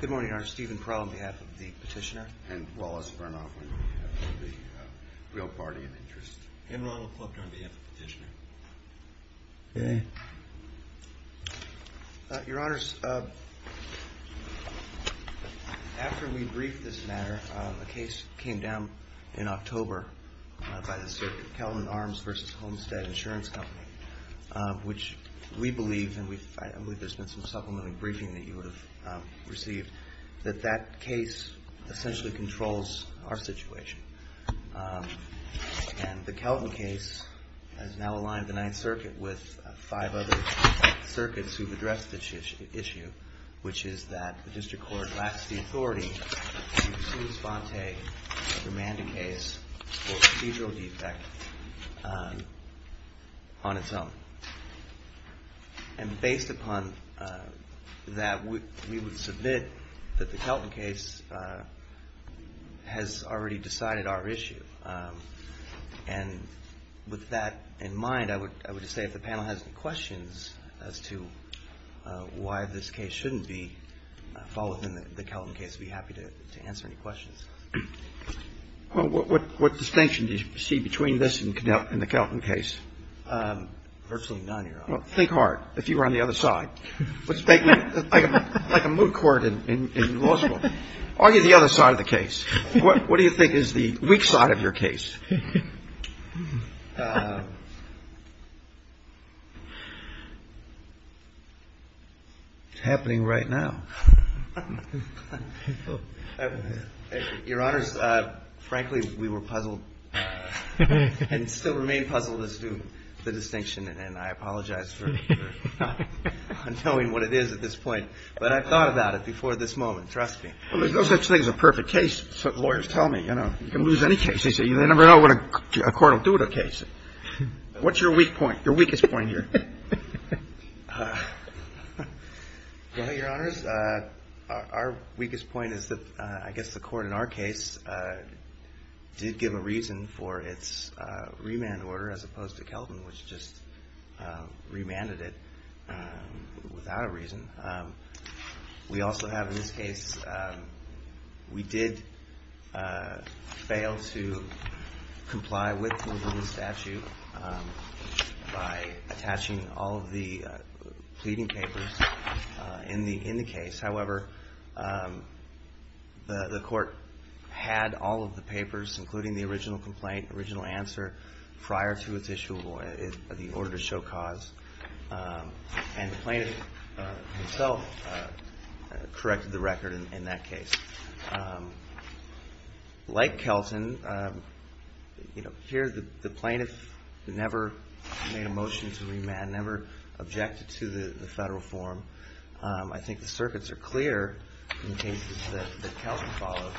Good morning, Your Honor. Stephen Crow on behalf of the Petitioner, and Wallace Vernoff on behalf of the Real Party of Interest, and Ronald Clubb on behalf of the Petitioner. Your Honors, after we briefed this matter, a case came down in October by the Sir Kelvin Arms v. Homestead Insurance Company, which we believe, and I believe there's been some supplementary briefing that you would have received, that that case essentially controls our situation. And the Kelvin case has now aligned the Ninth Circuit with five other circuits who've addressed this issue, which is that the District Court lacks the authority to respond to a remanded case or procedural defect on its own. And based upon that, we would submit that the Kelvin case has already decided our issue. And with that in mind, I would just say if the panel has any questions as to why this case shouldn't fall within the Kelvin case, I'd be happy to answer any questions. Well, what distinction do you see between this and the Kelvin case? Virtually none, Your Honor. Well, think hard. If you were on the other side, like a moot court in law school, argue the other side of the case. What do you think is the weak spot of your case? It's happening right now. Your Honors, frankly, we were puzzled and still remain puzzled as to the distinction, and I apologize for not knowing what it is at this point. But I've thought about it before this moment. Trust me. Well, there's no such thing as a perfect case, lawyers tell me. You can lose any case. They never know what a court will do to a case. What's your weak point, your weakest point here? Well, Your Honors, our weakest point is that I guess the court in our case did give a reason for its remand order as opposed to Kelvin, which just remanded it without a reason. We also have in this case, we did fail to comply with the statute by attaching all of the pleading papers in the case. However, the court had all of the papers, including the original complaint, original answer, prior to its issue of the order to show cause. And the plaintiff himself corrected the record in that case. Like Kelton, here the plaintiff never made a motion to remand, never objected to the federal form. I think the circuits are clear in cases that Kelton followed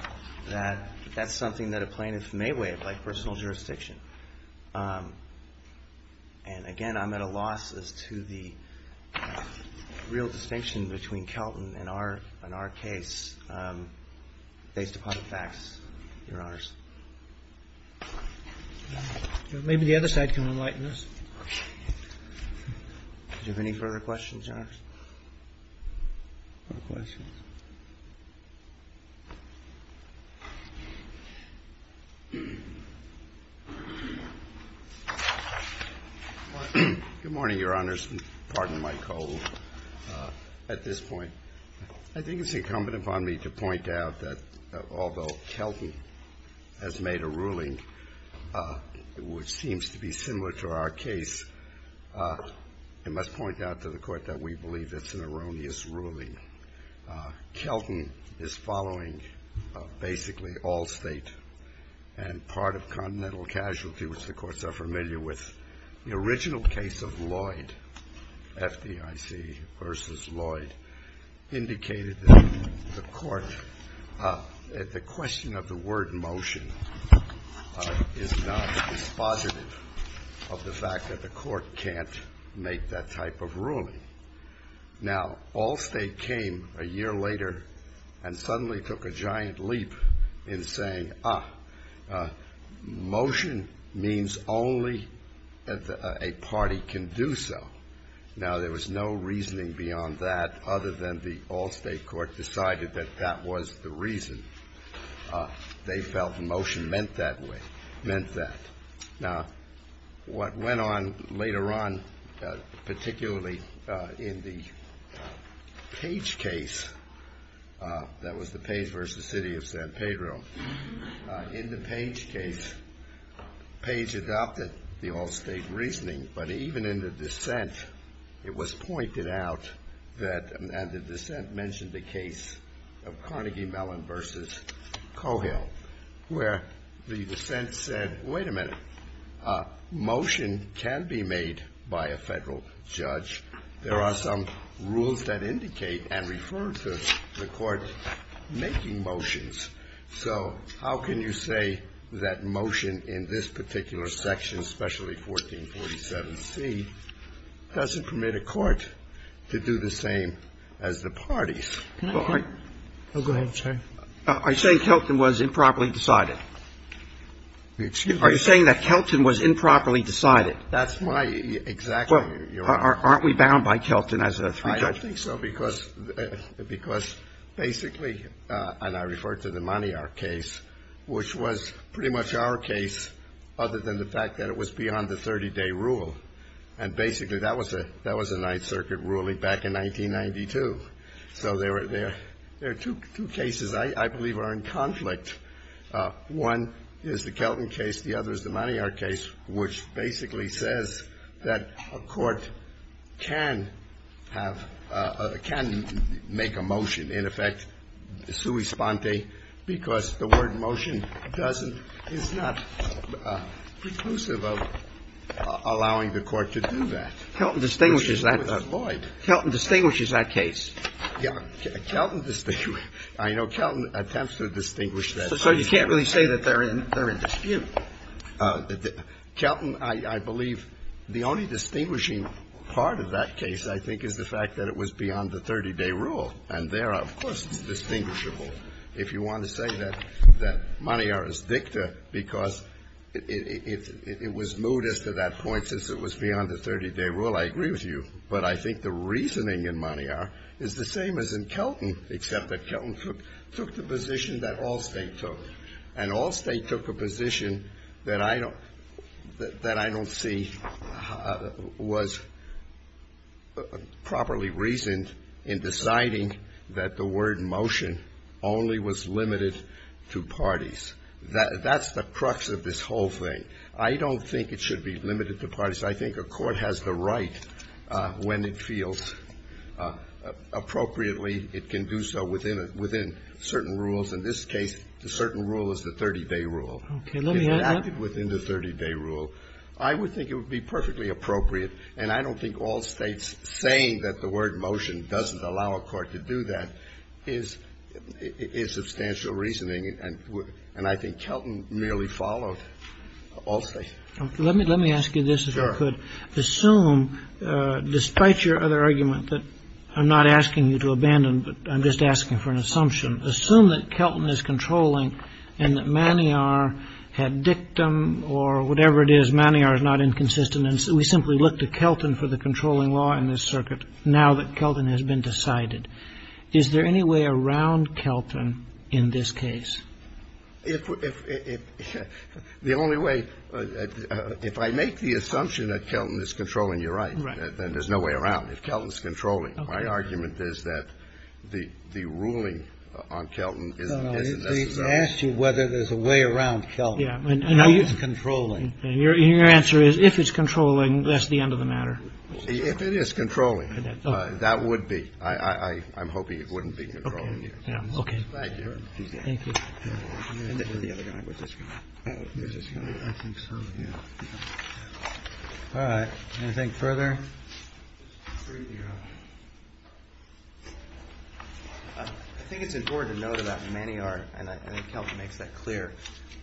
that that's something that a plaintiff may waive, like personal jurisdiction. And again, I'm at a loss as to the real distinction between Kelton and our case based upon the facts, Your Honors. Maybe the other side can enlighten us. Do you have any further questions, Your Honors? No questions. Good morning, Your Honors. Pardon my cold at this point. I think it's incumbent upon me to point out that although Kelton has made a ruling which seems to be similar to our case, I must point out to the Court that we believe it's an erroneous ruling. Kelton is following basically all State and part of Continental Casualty, which the courts are familiar with. The original case of Lloyd, FDIC v. Lloyd, indicated that the Court, the question of the word motion is not dispositive of the fact that the Court can't make that type of ruling. Now, Allstate came a year later and suddenly took a giant leap in saying, ah, motion means only a party can do so. Now, there was no reasoning beyond that other than the Allstate Court decided that that was the reason. They felt the motion meant that. Now, what went on later on, particularly in the Page case, that was the Page v. City of San Pedro, in the Page case, Page adopted the Allstate reasoning, but even in the dissent, it was pointed out that, and the dissent mentioned the case of Carnegie Mellon v. Cohill, where the dissent said, wait a minute, motion can be made by a Federal judge. There are some rules that indicate and refer to the Court making motions. So how can you say that motion in this particular section, especially 1447C, doesn't permit a court to do the same as the parties? Go ahead, sir. Are you saying Kelton was improperly decided? Excuse me? Are you saying that Kelton was improperly decided? That's my exact question. Well, aren't we bound by Kelton as a three-judge? I don't think so, because basically, and I refer to the Maniart case, which was pretty much our case, other than the fact that it was beyond the 30-day rule. And basically, that was a Ninth Circuit ruling back in 1992. So there are two cases I believe are in conflict. One is the Kelton case. The other is the Maniart case, which basically says that a court can have a – can make a motion, in effect, sui sponte, because the word motion doesn't – is not preclusive of allowing the court to do that. Kelton distinguishes that. Kelton distinguishes that case. Yeah. Kelton – I know Kelton attempts to distinguish that case. So you can't really say that they're in dispute. Kelton, I believe the only distinguishing part of that case, I think, is the fact that it was beyond the 30-day rule. And there, of course, it's distinguishable. If you want to say that Maniart is dicta because it was moved us to that point since it was beyond the 30-day rule, I agree with you. But I think the reasoning in Maniart is the same as in Kelton, except that Kelton took the position that Allstate took. And Allstate took a position that I don't – that I don't see was properly reasoned in deciding that the word motion only was limited to parties. That's the crux of this whole thing. I don't think it should be limited to parties. I think a court has the right, when it feels appropriately, it can do so within a – within certain rules. In this case, the certain rule is the 30-day rule. Okay. Let me add that. If it happened within the 30-day rule, I would think it would be perfectly appropriate, and I don't think Allstate's saying that the word motion doesn't allow a court to do that is substantial reasoning. And I think Kelton merely followed Allstate. Let me ask you this, if I could. Sure. Assume, despite your other argument that I'm not asking you to abandon, but I'm just asking for an assumption. Assume that Kelton is controlling and that Maniart had dictum or whatever it is, Maniart is not inconsistent, and so we simply look to Kelton for the controlling law in this circuit now that Kelton has been decided. Is there any way around Kelton in this case? The only way – if I make the assumption that Kelton is controlling, you're right. Right. Then there's no way around it. If Kelton's controlling, my argument is that the ruling on Kelton is necessary. No, no. They've asked you whether there's a way around Kelton. Yeah. If it's controlling. And your answer is if it's controlling, that's the end of the matter. If it is controlling, that would be. All right. Anything further? I think it's important to note about Maniart, and I think Kelton makes that clear,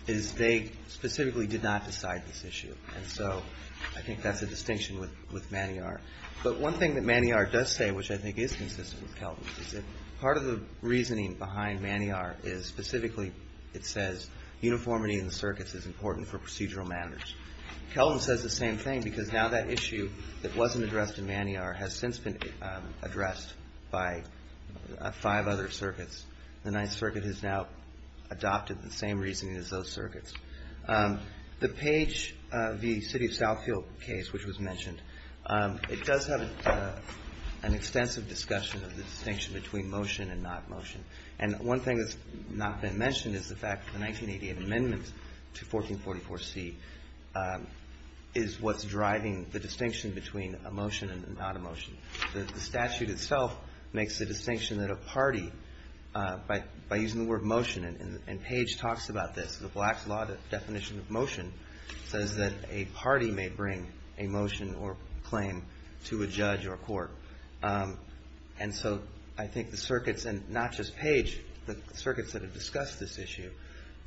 is they specifically did not decide this issue. And so I think that's a distinction with Maniart. But one thing that Maniart does say, which I think is consistent with Kelton, is that part of the reasoning behind Maniart is specifically, it says uniformity in the circuits is important for procedural matters. Kelton says the same thing because now that issue that wasn't addressed in Maniart has since been addressed by five other circuits. The Ninth Circuit has now adopted the same reasoning as those circuits. The Page v. City of Southfield case, which was mentioned, it does have an extensive discussion of the distinction between motion and not motion. And one thing that's not been mentioned is the fact that the 1988 amendment to 1444C is what's driving the distinction between a motion and not a motion. The statute itself makes the distinction that a party, by using the word motion, and Page talks about this, the Black's Law definition of motion says that a party may bring a motion or claim to a judge or a court. And so I think the circuits, and not just Page, the circuits that have discussed this issue,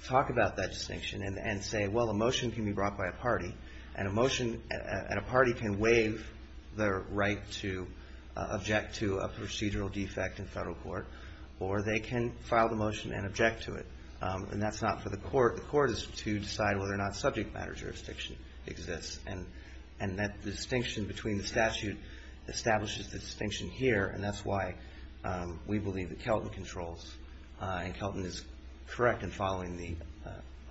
talk about that distinction and say, well, a motion can be brought by a party, and a party can waive their right to object to a procedural defect in federal court, or they can file the motion and object to it. And that's not for the court. The court is to decide whether or not subject matter jurisdiction exists. And that distinction between the statute establishes the distinction here, and that's why we believe that Kelton controls, and Kelton is correct in following the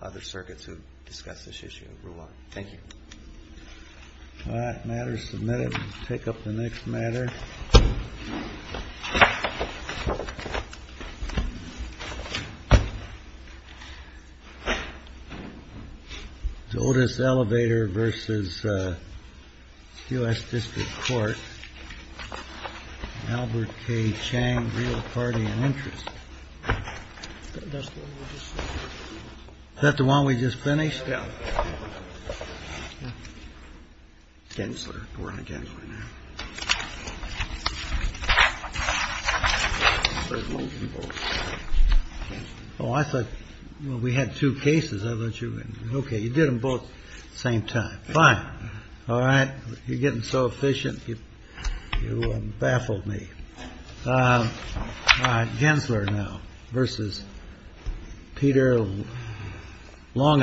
other circuits who have discussed this issue. Thank you. All right. The matter is submitted. We'll take up the next matter. The oldest elevator versus U.S. District Court. Albert K. Chang, real party and interest. Is that the one we just finished? Yeah. Gensler. We're on Gensler now. Oh, I thought we had two cases. I thought you were going to. Okay. You did them both at the same time. Fine. All right. You're getting so efficient, you baffled me. Gensler now versus Peter Long and Buck.